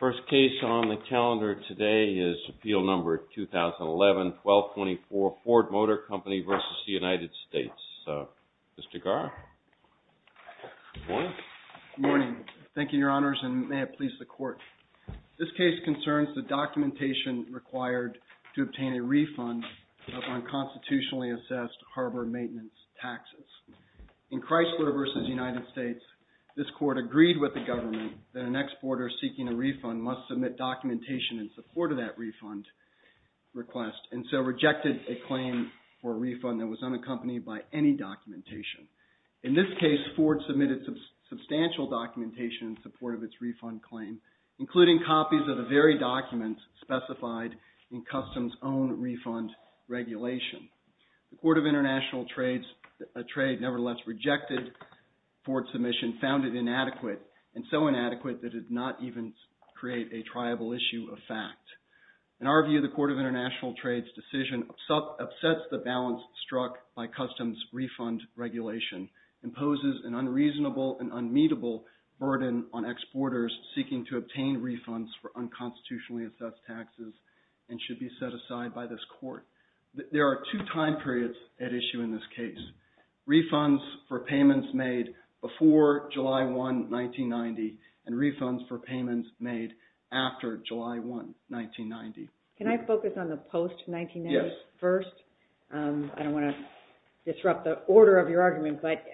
Good morning. Thank you, Your Honors, and may it please the Court. This case concerns the documentation required to obtain a refund of unconstitutionally assessed harbor maintenance taxes. In Chrysler v. United States, this Court agreed with the government that an exporter seeking a refund must submit documentation in support of that refund request, and so rejected a claim for a refund that was unaccompanied by any documentation. In this case, Ford submitted substantial documentation in support of its refund claim, including copies of the very documents specified in Customs' own refund regulation. The Court of International Trade nevertheless rejected Ford's submission, found it inadequate, and so inadequate that it did not even create a triable issue of fact. In our view, the Court of International Trade's decision upsets the balance struck by Customs' refund regulation, imposes an unreasonable and unmeetable burden on exporters seeking to obtain refunds for unconstitutionally assessed taxes and should be set aside by this Court. There are two time periods at issue in this after July 1, 1990. Can I focus on the post-1990s first? Yes. I don't want to disrupt the order of your argument, but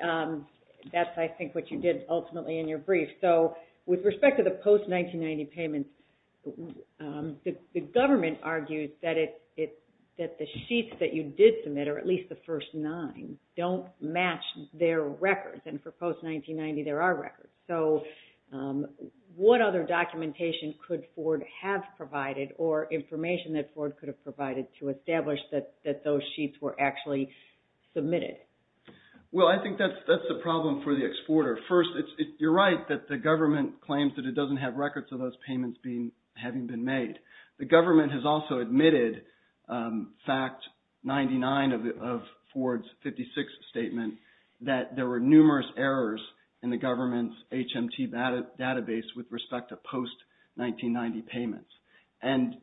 that's, I think, what you did ultimately in your brief. So, with respect to the post-1990 payments, the government argued that the sheets that you did submit, or at least the first nine, don't match their records. And for post-1990, there are records. So, what other documentation could Ford have provided or information that Ford could have provided to establish that those sheets were actually submitted? Well, I think that's the problem for the exporter. First, you're right that the government claims that it doesn't have records of those payments having been made. The government has also admitted, fact 99 of Ford's 56th statement, that there were numerous errors in the government's HMT database with respect to post-1990 payments. And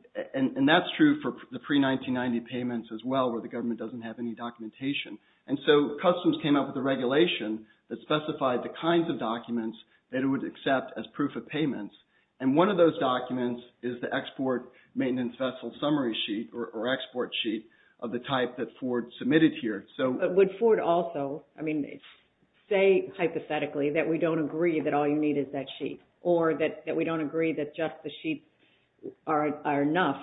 that's true for the pre-1990 payments as well, where the government doesn't have any documentation. And so, Customs came up with a regulation that specified the kinds of documents that it would accept as proof of payments. And one of those documents is the Export Maintenance Vessel Summary Sheet, or Export Sheet, of the type that Ford submitted here. But would Ford also, I mean, say, hypothetically, that we don't agree that all you need is that sheet? Or that we don't agree that just the sheets are enough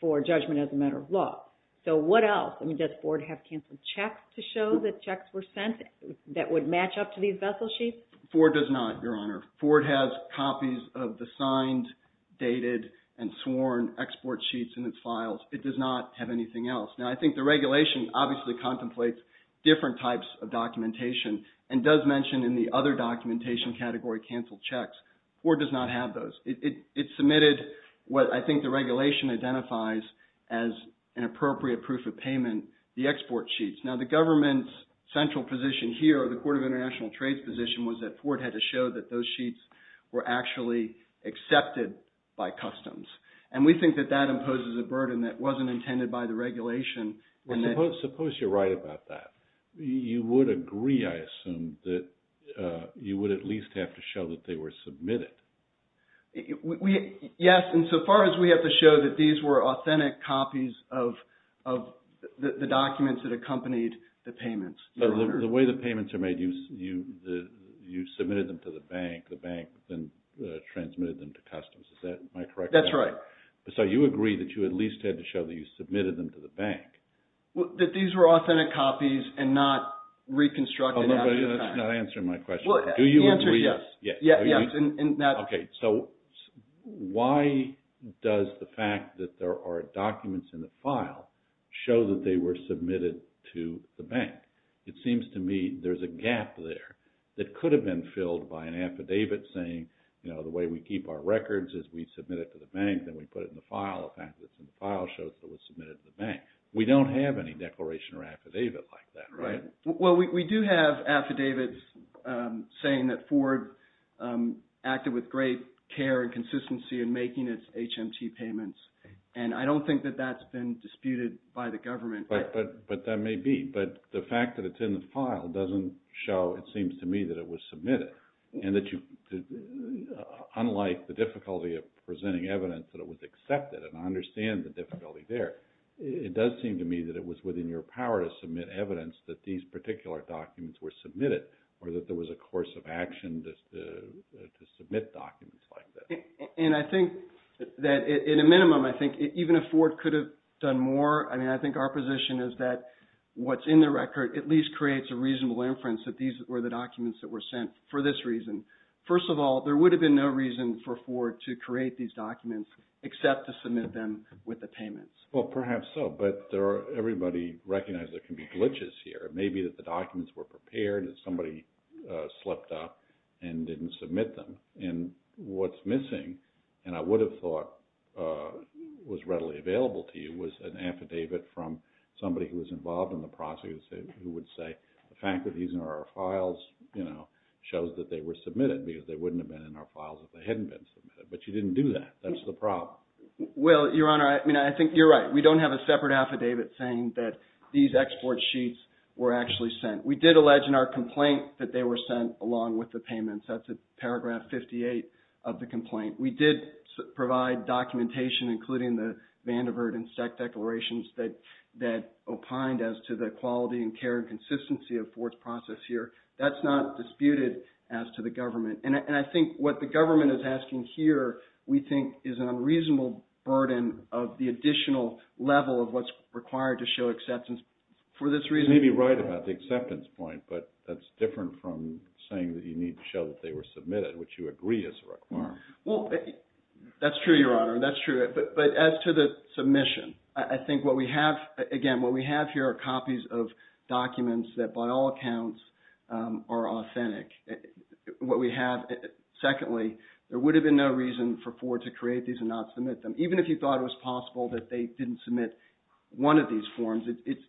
for judgment as a matter of law? So, what else? I mean, does Ford have canceled checks to show that checks were sent that would match up to these vessel sheets? Ford does not, Your Honor. Ford has copies of the signed, dated, and sworn export sheets in its files. It does not have anything else. Now, I think the regulation obviously contemplates different types of documentation, and does mention in the other documentation category, canceled checks. Ford does not have those. It submitted what I think the regulation identifies as an appropriate proof of payment, the export sheets. Now, the government's central position here, or the Court of International Trade's position, was that Ford had to show that those And we think that that imposes a burden that wasn't intended by the regulation. Suppose you're right about that. You would agree, I assume, that you would at least have to show that they were submitted. Yes. And so far as we have to show that these were authentic copies of the documents that accompanied the payments. The way the payments are made, you submitted them to the bank. The bank then transmitted them to customs. Is that my correct memory? That's right. So you agree that you at least had to show that you submitted them to the bank. That these were authentic copies and not reconstructed. That's not answering my question. Do you agree? The answer is yes. Okay. So why does the fact that there are documents in the file show that they were submitted to the bank? It seems to me there's a gap there that could have been filled by an affidavit saying, you know, the way we keep our records is we submit it to the bank then we put it in the file. The fact that it's in the file shows that it was submitted to the bank. We don't have any declaration or affidavit like that, right? Well, we do have affidavits saying that Ford acted with great care and consistency in making its HMT payments. And I don't think that that's been disputed by the government. But that may be. But the fact that it's in the file doesn't show, it seems to me, that it was submitted. And that you, unlike the difficulty of presenting evidence that it was accepted, and I understand the difficulty there, it does seem to me that it was within your power to submit evidence that these particular documents were submitted or that there was a course of action to submit documents like that. And I think that in a minimum, I think even if Ford could have done more, I mean, I think our position is that what's in the record at least creates a reasonable inference that these were the documents that were sent for this reason. First of all, there would have been no reason for Ford to create these documents except to submit them with the payments. Well, perhaps so. But everybody recognizes there can be glitches here. It may be that the documents were prepared and somebody slipped up and didn't submit them. And what's missing, and I would have thought was readily available to you, was an affidavit from somebody who was involved in the process who would say the fact that these are our files shows that they were submitted because they wouldn't have been in our files if they hadn't been submitted. But you didn't do that. That's the problem. Well, Your Honor, I think you're right. We don't have a separate affidavit saying that these export sheets were actually sent. We did allege in our complaint that they were sent along with the payments. That's paragraph 58 of the complaint. We did provide documentation including the Vanderbilt and Steck declarations that opined as to the quality and care and consistency of Ford's process here. That's not disputed as to the government. And I think what the government is asking here, we think, is an unreasonable burden of the additional level of what's required to show acceptance for this reason. You may be right about the acceptance point, but that's different from saying that you need to show that they were submitted, which you agree is required. Well, that's true, Your Honor. That's true. But as to the submission, I think what we have, again, what we have here are copies of documents that by all accounts are authentic. What we have, secondly, there would have been no reason for Ford to create these and not submit them. Even if you thought it was possible that they didn't submit one of these forms, it's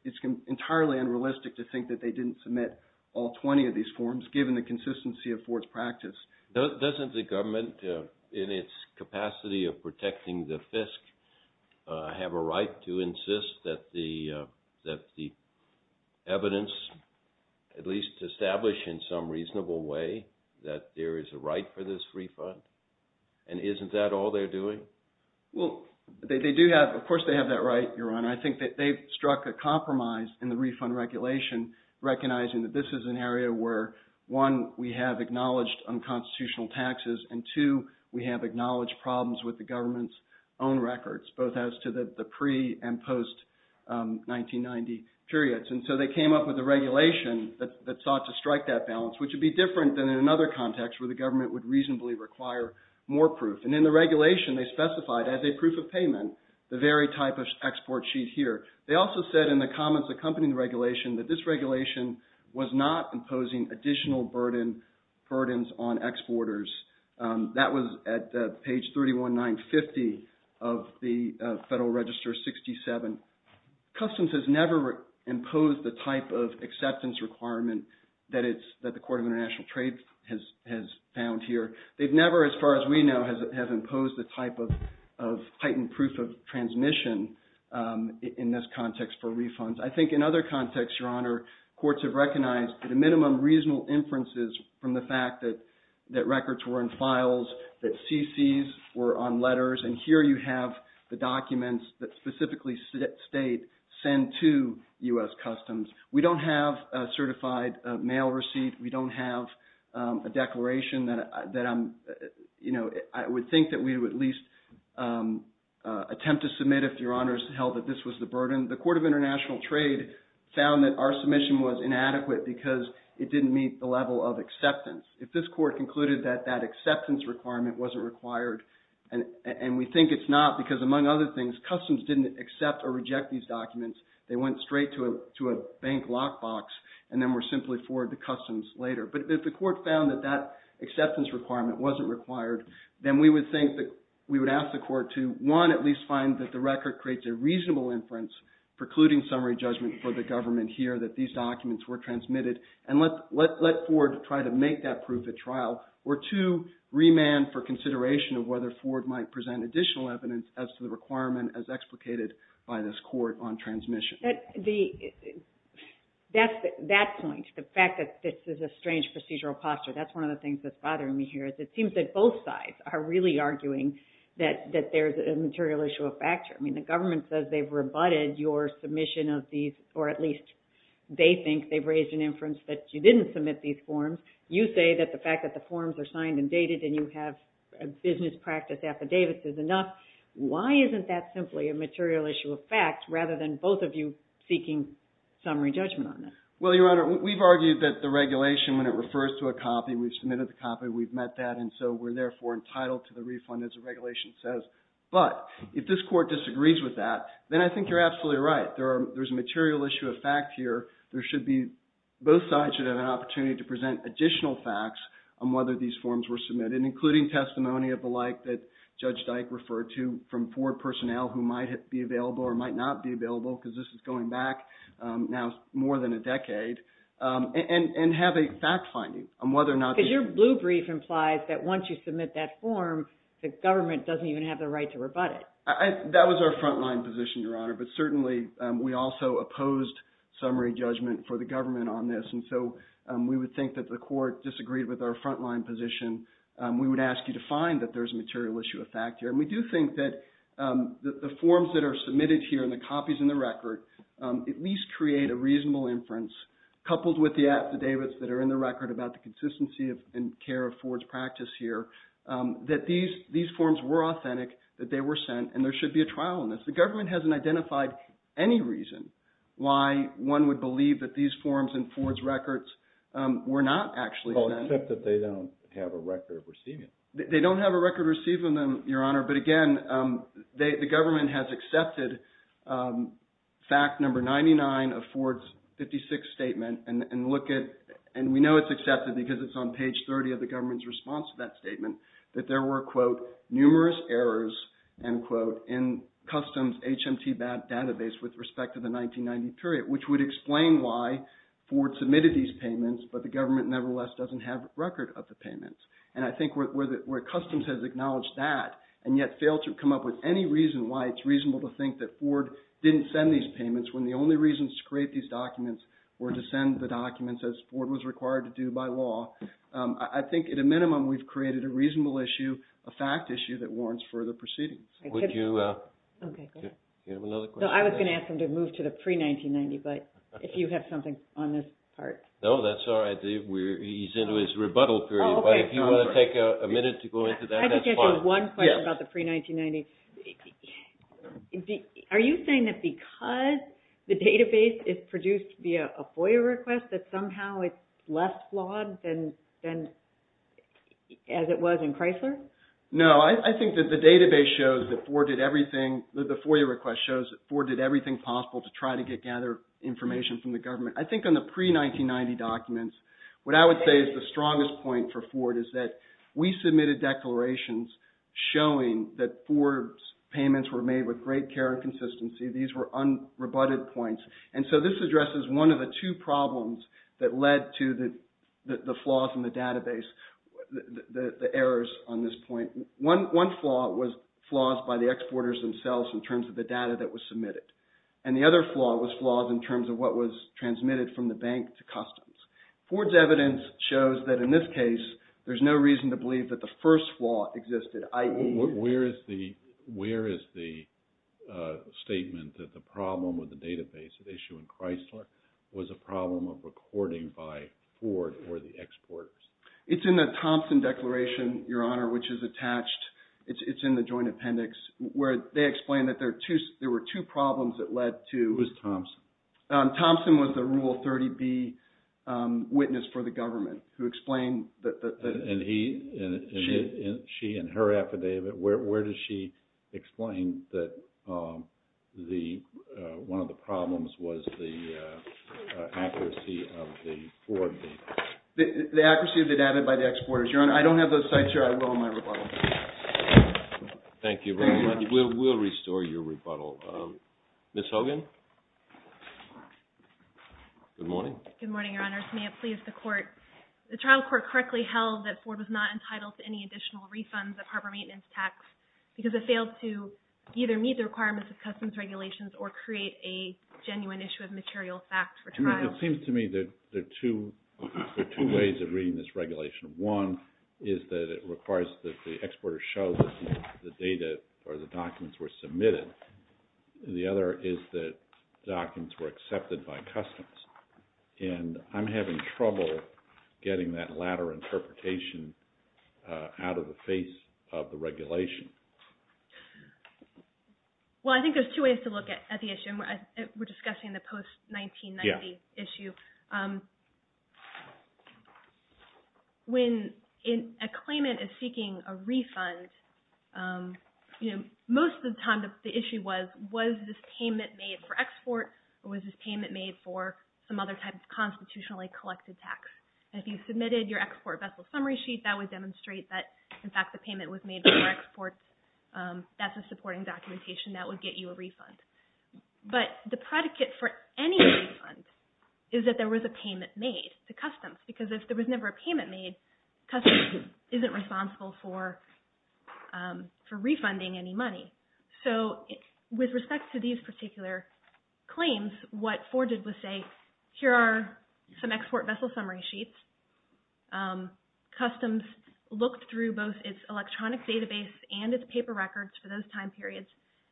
entirely unrealistic to think that they didn't submit all 20 of these forms given the consistency of Ford's practice. Doesn't the government, in its capacity of protecting the FISC, have a right to insist that the evidence, at least established in some reasonable way, that there is a right for this refund? And isn't that all they're doing? Well, they do have, of course they have that right, Your Honor. I think that they've struck a compromise in the refund regulation, recognizing that this is an area where, one, we have acknowledged unconstitutional taxes, and two, we have acknowledged problems with the government's own records, both as to the pre- and post-1990 periods. And so they came up with a regulation that sought to strike that balance, which would be different than in another context where the government would reasonably require more proof. And in the regulation, they specified as a proof of payment the very type of export sheet here. They also said in the comments accompanying the regulation that this regulation was not imposing additional burdens on exporters. That was at page 31950 of the Federal Register 67. Customs has never imposed the type of acceptance requirement that the Court of International Trade has found here. They've never, as far as we know, have imposed the type of heightened proof of transmission in this context for refunds. I think in other contexts, Your Honor, courts have recognized the minimum reasonable inferences from the fact that records were in files, that CCs were on letters, and here you have the documents that specifically state, send to U.S. Customs. We don't have a certified mail receipt. We don't have a declaration that I'm, you know, I would think that we would at least attempt to submit if Your Honors held that this was the burden. The Court of International Trade found that our submission was inadequate because it didn't meet the level of acceptance. If this Court concluded that that acceptance requirement wasn't required, and we think it's not because among other things, Customs didn't accept or reject these documents. They went straight to a bank lockbox and then were simply forwarded to Customs later. But if the Court found that that acceptance requirement wasn't required, then we would think that we would ask the Court to, one, at least find that the record creates a reasonable inference precluding summary judgment for the government here that these documents were transmitted, and let Ford try to make that proof at trial, or two, remand for consideration of whether Ford might present additional evidence as to the requirement as explicated by this Court on transmission. That point, the fact that this is a strange procedural posture, that's one of the things that's bothering me here is it seems that both sides are really arguing that there's a material issue of facture. I mean, the government says they've rebutted your submission of these, or at least they think they've raised an inference that you didn't submit these forms. You say that the fact that the forms are signed and dated and you have a business practice affidavit is enough. Why isn't that simply a material issue of fact rather than both of you seeking summary judgment on it? Well, Your Honor, we've argued that the regulation, when it refers to a copy, we've submitted the copy, we've met that, and so we're therefore entitled to the refund as the regulation says. But if this Court disagrees with that, then I think you're absolutely right. There's a material issue of fact here. There should be, both sides should have an opportunity to present additional facts on whether these forms were submitted, including testimony of the like that Judge Dyke referred to from Ford personnel who might be available or might not be available, because this is going back now more than a decade, and have a fact finding on whether or not... Because your blue brief implies that once you submit that form, the government doesn't even have the right to rebut it. That was our frontline position, Your Honor, but certainly we also opposed summary judgment for the government on this, and so we would think that the Court disagreed with our frontline position. We would ask you to find that there's a material issue of fact here, and we do think that the forms that are submitted here and the copies in the record at least create a consistency in care of Ford's practice here, that these forms were authentic, that they were sent, and there should be a trial on this. The government hasn't identified any reason why one would believe that these forms in Ford's records were not actually sent. Well, except that they don't have a record of receiving them. They don't have a record of receiving them, Your Honor, but again, the government has And we know it's accepted because it's on page 30 of the government's response to that statement, that there were, quote, numerous errors, end quote, in Customs HMT database with respect to the 1990 period, which would explain why Ford submitted these payments, but the government nevertheless doesn't have a record of the payments. And I think where Customs has acknowledged that, and yet failed to come up with any reason why it's reasonable to think that Ford didn't send these payments, when the only reason to create these documents were to send the documents as Ford was required to do by law, I think at a minimum we've created a reasonable issue, a fact issue, that warrants further proceedings. Would you... Okay. Do you have another question? No, I was going to ask him to move to the pre-1990, but if you have something on this part. No, that's all right. He's into his rebuttal period, but if you want to take a minute to go into that, that's fine. I just have one question about the pre-1990. Are you saying that because the database is produced via a FOIA request, that somehow it's less flawed than as it was in Chrysler? No, I think that the database shows that Ford did everything, that the FOIA request shows that Ford did everything possible to try to gather information from the government. I think on the pre-1990 documents, what I would say is the strongest point for Ford is that we submitted declarations showing that Ford's payments were made with great care and consistency. These were unrebutted points, and so this addresses one of the two problems that led to the flaws in the database, the errors on this point. One flaw was flaws by the exporters themselves in terms of the data that was submitted, and the other flaw was flaws in terms of what was transmitted from the bank to customs. Ford's evidence shows that in this case, there's no reason to believe that the first flaw existed, i.e. Where is the statement that the problem with the database at issue in Chrysler was a problem of recording by Ford or the exporters? It's in the Thompson Declaration, Your Honor, which is attached. It's in the joint appendix where they explain that there were two problems that led to Who was Thompson? Thompson was the Rule 30B witness for the government who explained that the And he and she and her affidavit, where does she explain that one of the problems was the accuracy of the Ford data? The accuracy of the data by the exporters, Your Honor. I don't have those sites here. I will in my rebuttal. Thank you very much. We'll restore your rebuttal. Ms. Hogan? Good morning. Good morning, Your Honor. May it please the Court. The trial court correctly held that Ford was not entitled to any additional refunds of harbor maintenance tax because it failed to either meet the requirements of customs regulations or create a genuine issue of material fact for trial. It seems to me that there are two ways of reading this regulation. One is that it requires that the exporters show that the data or the documents were submitted. The other is that documents were accepted by customs. And I'm having trouble getting that latter interpretation out of the face of the regulation. Well, I think there's two ways to look at the issue, and we're discussing the post-1990 issue. When a claimant is seeking a refund, most of the time the issue was, was this payment made for export or was this payment made for some other type of constitutionally collected tax? And if you submitted your export vessel summary sheet, that would demonstrate that, in fact, the payment was made for exports. That's a supporting documentation. That would get you a refund. But the predicate for any refund is that there was a payment made to customs because if there was never a payment made, customs isn't responsible for refunding any money. So with respect to these particular claims, what Ford did was say, here are some export vessel summary sheets. Customs looked through both its electronic database and its paper records for those time periods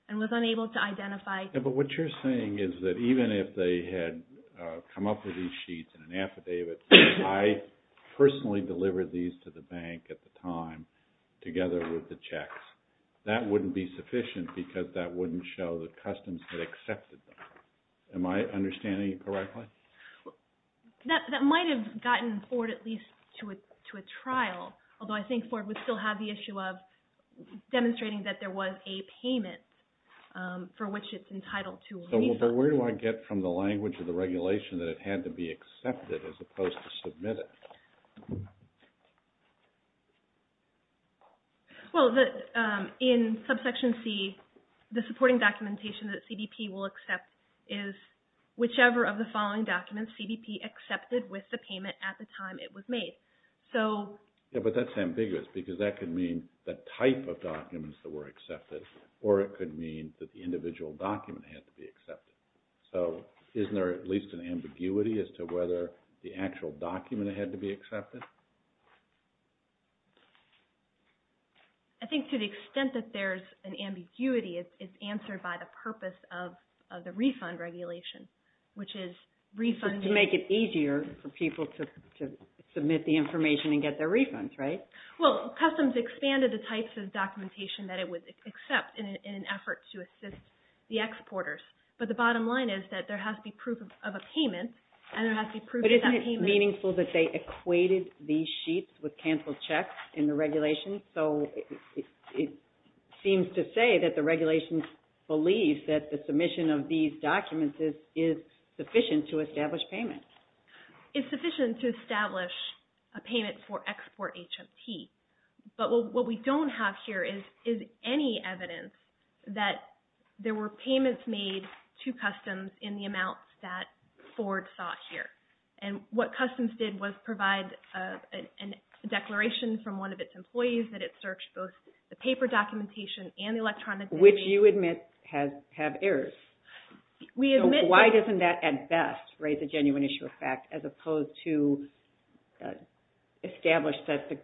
and was unable to identify. But what you're saying is that even if they had come up with these sheets in an affidavit, I personally delivered these to the bank at the time together with the checks. That wouldn't be sufficient because that wouldn't show that customs had accepted them. Am I understanding you correctly? That might have gotten Ford at least to a trial, although I think Ford would still have the issue of demonstrating that there was a payment for which it's entitled to a refund. So where do I get from the language of the regulation that it had to be accepted as opposed to submitted? Well, in Subsection C, the supporting documentation that CBP will accept is whichever of the following documents CBP accepted with the payment at the time it was made. But that's ambiguous because that could mean the type of documents that were accepted or it could mean that the individual document had to be accepted. So isn't there at least an ambiguity as to whether the actual document had to be accepted? I think to the extent that there's an ambiguity, it's answered by the purpose of the refund regulation, which is refunding. To make it easier for people to submit the information and get their refunds, right? Well, customs expanded the types of documentation that it would accept in an effort to assist the exporters. But the bottom line is that there has to be proof of a payment and there has to be proof of that payment. But isn't it meaningful that they equated these sheets with canceled checks in the regulation? So it seems to say that the regulation believes that the submission of these documents is sufficient to establish payment. It's sufficient to establish a payment for export HMT. But what we don't have here is any evidence that there were payments made to customs in the amount that Ford saw here. And what customs did was provide a declaration from one of its employees that it searched both the paper documentation and electronic data. Which you admit have errors. So why doesn't that at best raise a genuine issue of fact as opposed to establish that the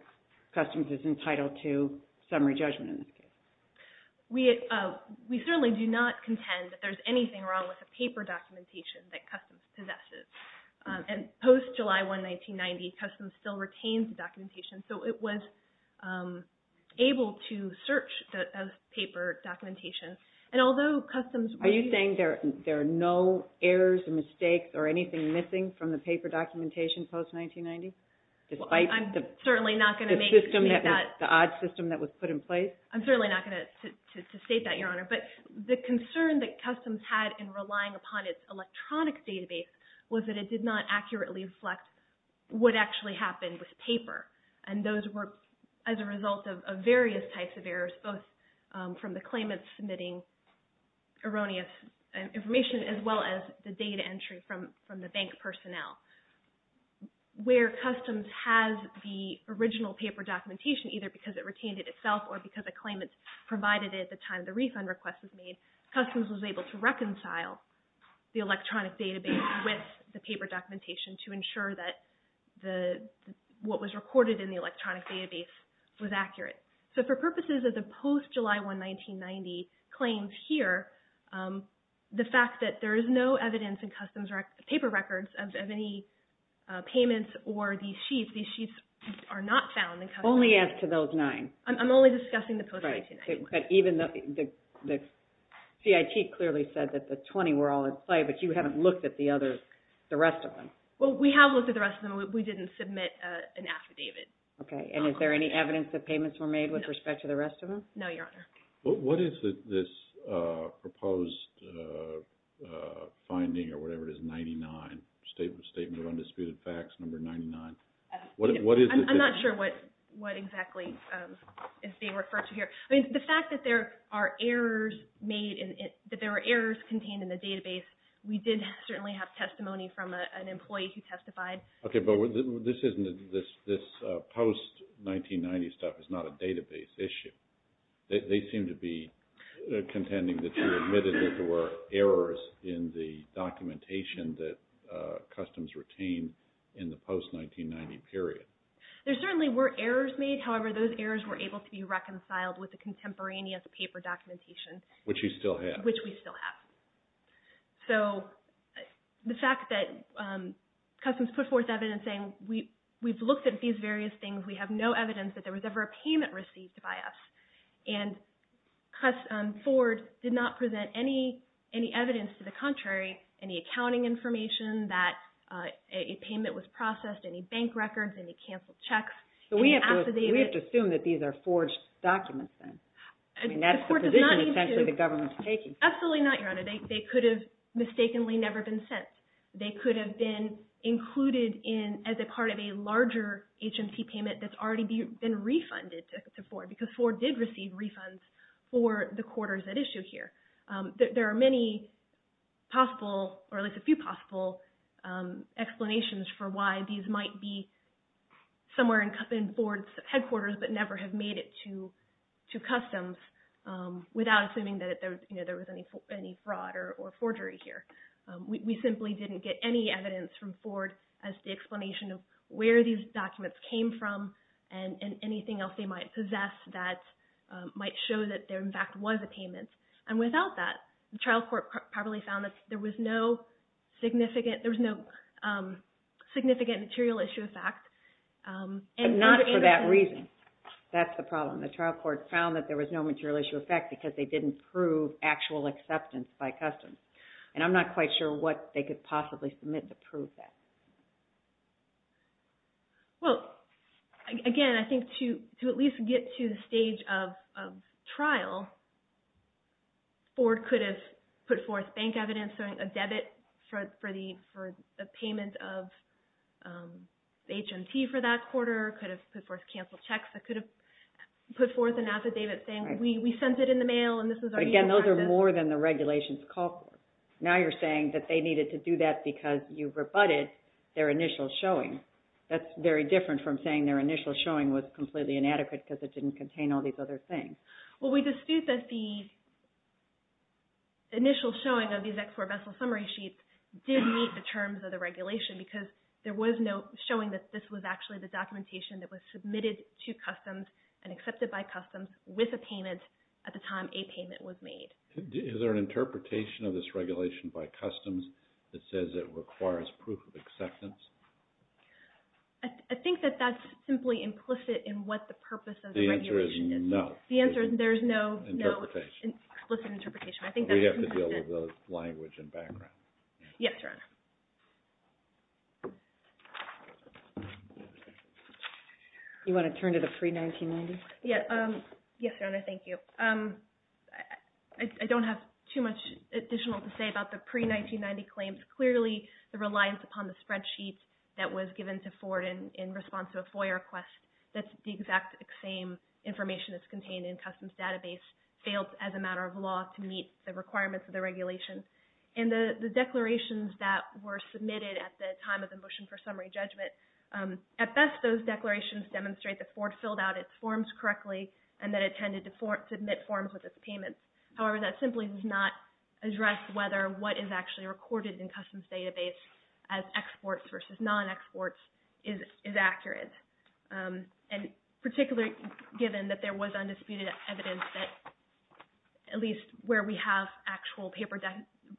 customs is entitled to summary judgment in this case? We certainly do not contend that there's anything wrong with the paper documentation that customs possesses. And post-July 1, 1990, customs still retains the documentation. So it was able to search the paper documentation. Are you saying there are no errors or mistakes or anything missing from the paper documentation post-1990? I'm certainly not going to make that. Despite the odd system that was put in place? But the concern that customs had in relying upon its electronic database was that it did not accurately reflect what actually happened with paper. And those were as a result of various types of errors, both from the claimants submitting erroneous information as well as the data entry from the bank personnel. Where customs has the original paper documentation, either because it retained it itself or because a claimant provided it at the time the refund request was made, customs was able to reconcile the electronic database with the paper documentation to ensure that what was recorded in the electronic database was accurate. So for purposes of the post-July 1, 1990 claims here, the fact that there is no evidence in customs paper records of any payments or these sheets, these sheets are not found in customs. Only as to those nine? I'm only discussing the post-1990 ones. But even the CIT clearly said that the 20 were all in sight, but you haven't looked at the rest of them. Well, we have looked at the rest of them. We didn't submit an affidavit. Okay. And is there any evidence that payments were made with respect to the rest of them? No, Your Honor. What is this proposed finding or whatever it is, statement of undisputed facts number 99? I'm not sure what exactly is being referred to here. The fact that there are errors contained in the database, we did certainly have testimony from an employee who testified. Okay, but this post-1990 stuff is not a database issue. They seem to be contending that you admitted that there were errors in the documentation that customs retained in the post-1990 period. There certainly were errors made. However, those errors were able to be reconciled with the contemporaneous paper documentation. Which you still have. Which we still have. So the fact that customs put forth evidence saying, we've looked at these various things. We have no evidence that there was ever a payment received by us. And Ford did not present any evidence to the contrary, any accounting information that a payment was processed, any bank records, any canceled checks, any affidavits. So we have to assume that these are forged documents then. I mean, that's the position essentially the government is taking. Absolutely not, Your Honor. They could have mistakenly never been sent. They could have been included as a part of a larger agency payment that's already been refunded to Ford. Because Ford did receive refunds for the quarters at issue here. There are many possible, or at least a few possible explanations for why these might be somewhere in Ford's headquarters but never have made it to customs without assuming that there was any fraud or forgery here. We simply didn't get any evidence from Ford as the explanation of where these documents came from and anything else they might possess that might show that there in fact was a payment. And without that, the trial court probably found that there was no significant material issue of fact. But not for that reason. That's the problem. The trial court found that there was no material issue of fact because they didn't prove actual acceptance by customs. And I'm not quite sure what they could possibly submit to prove that. Well, again, I think to at least get to the stage of trial, Ford could have put forth bank evidence, a debit for the payment of HMT for that quarter. Could have put forth canceled checks. It could have put forth an affidavit saying we sent it in the mail and this is our email address. But again, those are more than the regulations call for. Now you're saying that they needed to do that because you rebutted their initial showing. That's very different from saying their initial showing was completely inadequate because it didn't contain all these other things. Well, we dispute that the initial showing of these export vessel summary sheets did meet the terms of the regulation because there was no showing that this was actually the documentation that was submitted to customs and accepted by customs with a payment at the time a payment was made. Is there an interpretation of this regulation by customs that says it requires proof of acceptance? I think that that's simply implicit in what the purpose of the regulation is. The answer is no. The answer is there's no explicit interpretation. We have to deal with the language and background. Yes, Your Honor. You want to turn to the pre-1990s? Yes, Your Honor, thank you. I don't have too much additional to say about the pre-1990 claims. Clearly, the reliance upon the spreadsheet that was given to Ford in response to a FOIA request, that's the exact same information that's contained in customs database, failed as a matter of law to meet the requirements of the regulation. And the declarations that were submitted at the time of the motion for summary judgment, at best, those declarations demonstrate that Ford filled out its forms correctly and that it tended to submit forms with its payments. However, that simply does not address whether what is actually recorded in customs database as exports versus non-exports is accurate. And particularly given that there was undisputed evidence that at least where we have actual paper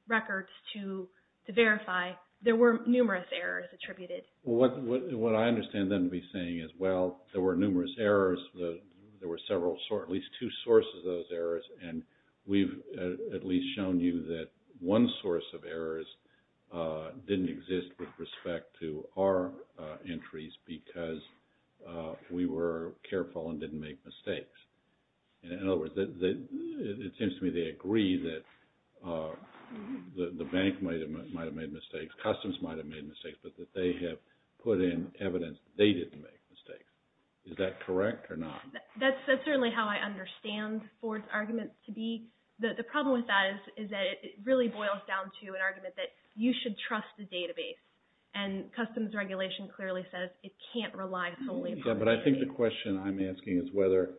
records to verify, there were numerous errors attributed. What I understand them to be saying is, well, there were numerous errors. There were several, at least two sources of those errors. And we've at least shown you that one source of errors didn't exist with respect to our entries because we were careful and didn't make mistakes. In other words, it seems to me they agree that the bank might have made mistakes, customs might have made mistakes, but that they have put in evidence that they didn't make mistakes. Is that correct or not? That's certainly how I understand Ford's argument to be. The problem with that is that it really boils down to an argument that you should trust the database. And customs regulation clearly says it can't rely solely upon the database. But I think the question I'm asking is whether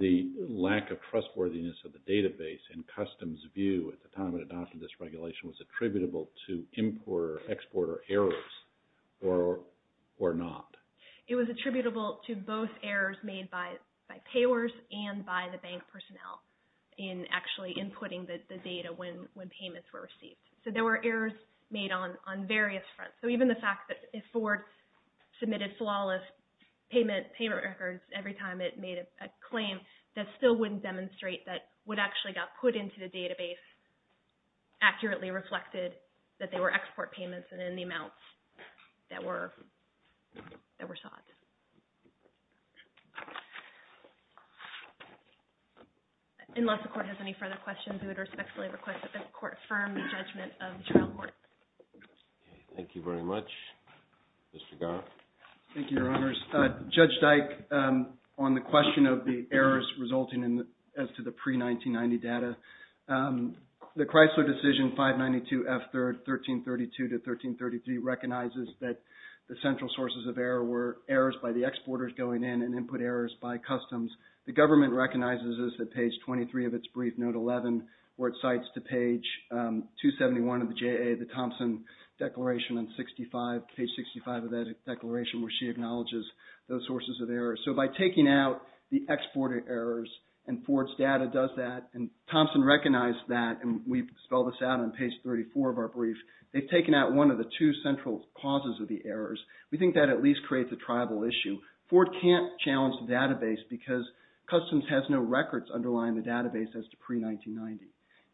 the lack of trustworthiness of the database in customs view at the time of adoption of this regulation was attributable to import or export errors or not. It was attributable to both errors made by payers and by the bank personnel in actually inputting the data when payments were received. So there were errors made on various fronts. So even the fact that if Ford submitted flawless payment records every time it made a claim, that still wouldn't demonstrate that what actually got put into the database accurately reflected that they were export payments and in the amounts that were sought. Unless the Court has any further questions, I would respectfully request that the Court affirm the judgment of the trial court. Thank you very much. Mr. Garth. Thank you, Your Honors. Judge Dyke, on the question of the errors resulting as to the pre-1990 data, the Chrysler decision 592F3rd 1332 to 1333 recognizes that the central sources of error were errors by the exporters going in and input errors by customs. The government recognizes this at page 23 of its brief, note 11, where it cites to page 271 of the JA, the Thompson Declaration on 65, page 65 of that declaration where she acknowledges those sources of error. So by taking out the exported errors, and Ford's data does that, and Thompson recognized that, and we spelled this out on page 34 of our brief. They've taken out one of the two central causes of the errors. We think that at least creates a tribal issue. Ford can't challenge the database because customs has no records underlying the database as to pre-1990.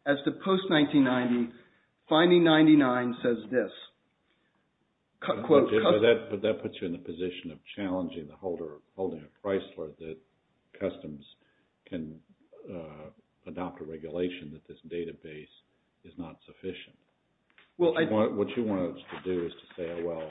As to post-1990, finding 99 says this. But that puts you in the position of challenging the holder, holding a Chrysler that customs can adopt a regulation that this database is not sufficient. What you want us to do is to say, oh, well,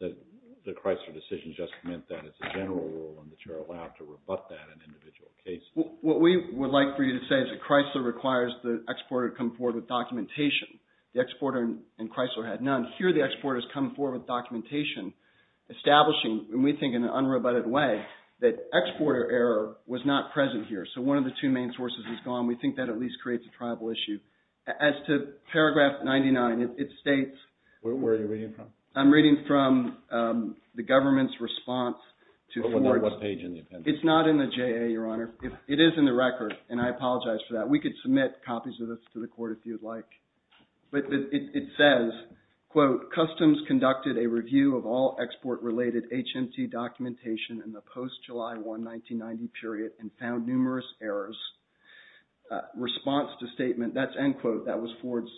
the Chrysler decision just meant that it's a general rule and that you're allowed to rebut that in individual cases. What we would like for you to say is that Chrysler requires the exporter to come forward with documentation. The exporter in Chrysler had none. Here the exporters come forward with documentation establishing, and we think in an unrebutted way, that exporter error was not present here. So one of the two main sources is gone. We think that at least creates a tribal issue. As to paragraph 99, it states... Where are you reading from? I'm reading from the government's response to Ford's... What page in the appendix? It's not in the JA, Your Honor. It is in the record, and I apologize for that. We could submit copies of this to the court if you'd like. But it says, quote, customs conducted a review of all export-related HMT documentation in the post-July 1, 1990 period and found numerous errors. Response to statement... That's end quote. That was Ford's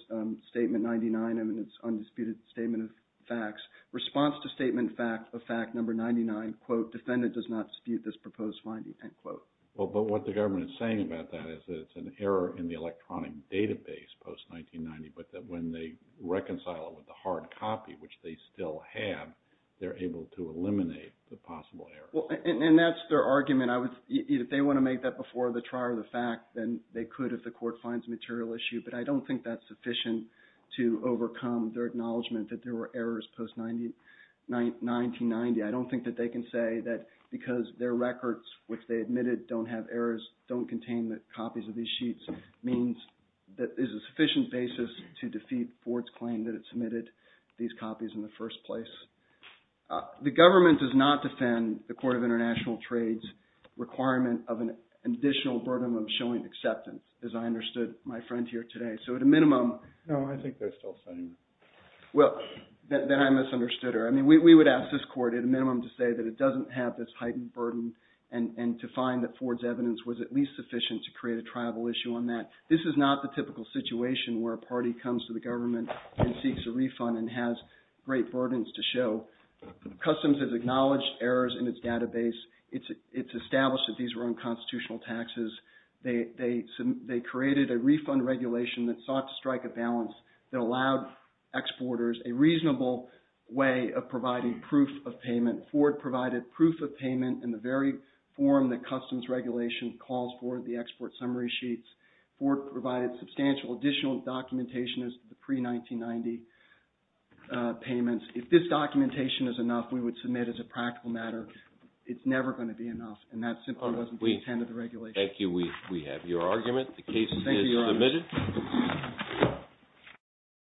statement 99, and it's undisputed statement of facts. Response to statement of fact number 99, quote, defendant does not dispute this proposed finding, end quote. Well, but what the government is saying about that is that it's an error in the electronic database post-1990, but that when they reconcile it with the hard copy, which they still have, they're able to eliminate the possible error. And that's their argument. If they want to make that before the trier of the fact, then they could if the court finds a material issue. But I don't think that's sufficient to overcome their acknowledgment that there were errors post-1990. I don't think that they can say that because their records, which they admitted don't have errors, don't contain copies of these sheets, means that there's a sufficient basis to defeat Ford's claim that it submitted these copies in the first place. The government does not defend the Court of International Trade's requirement of an additional burden of showing acceptance, as I understood my friend here today. So at a minimum... No, I think they're still saying that. Well, then I misunderstood her. I mean, we would ask this court at a minimum to say that it doesn't have this heightened burden and to find that Ford's evidence was at least sufficient to create a tribal issue on that. This is not the typical situation where a party comes to the government and seeks a refund and has great burdens to show. Customs has acknowledged errors in its database. It's established that these were unconstitutional taxes. They created a refund regulation that sought to strike a balance that allowed exporters a reasonable way of providing proof of payment. Ford provided proof of payment in the very form that Customs regulation calls for, the export summary sheets. Ford provided substantial additional documentation as to the pre-1990 payments. If this documentation is enough, we would submit as a practical matter, it's never going to be enough, and that simply wasn't the intent of the regulation. Thank you. We have your argument. The case is submitted. Thank you, Your Honor.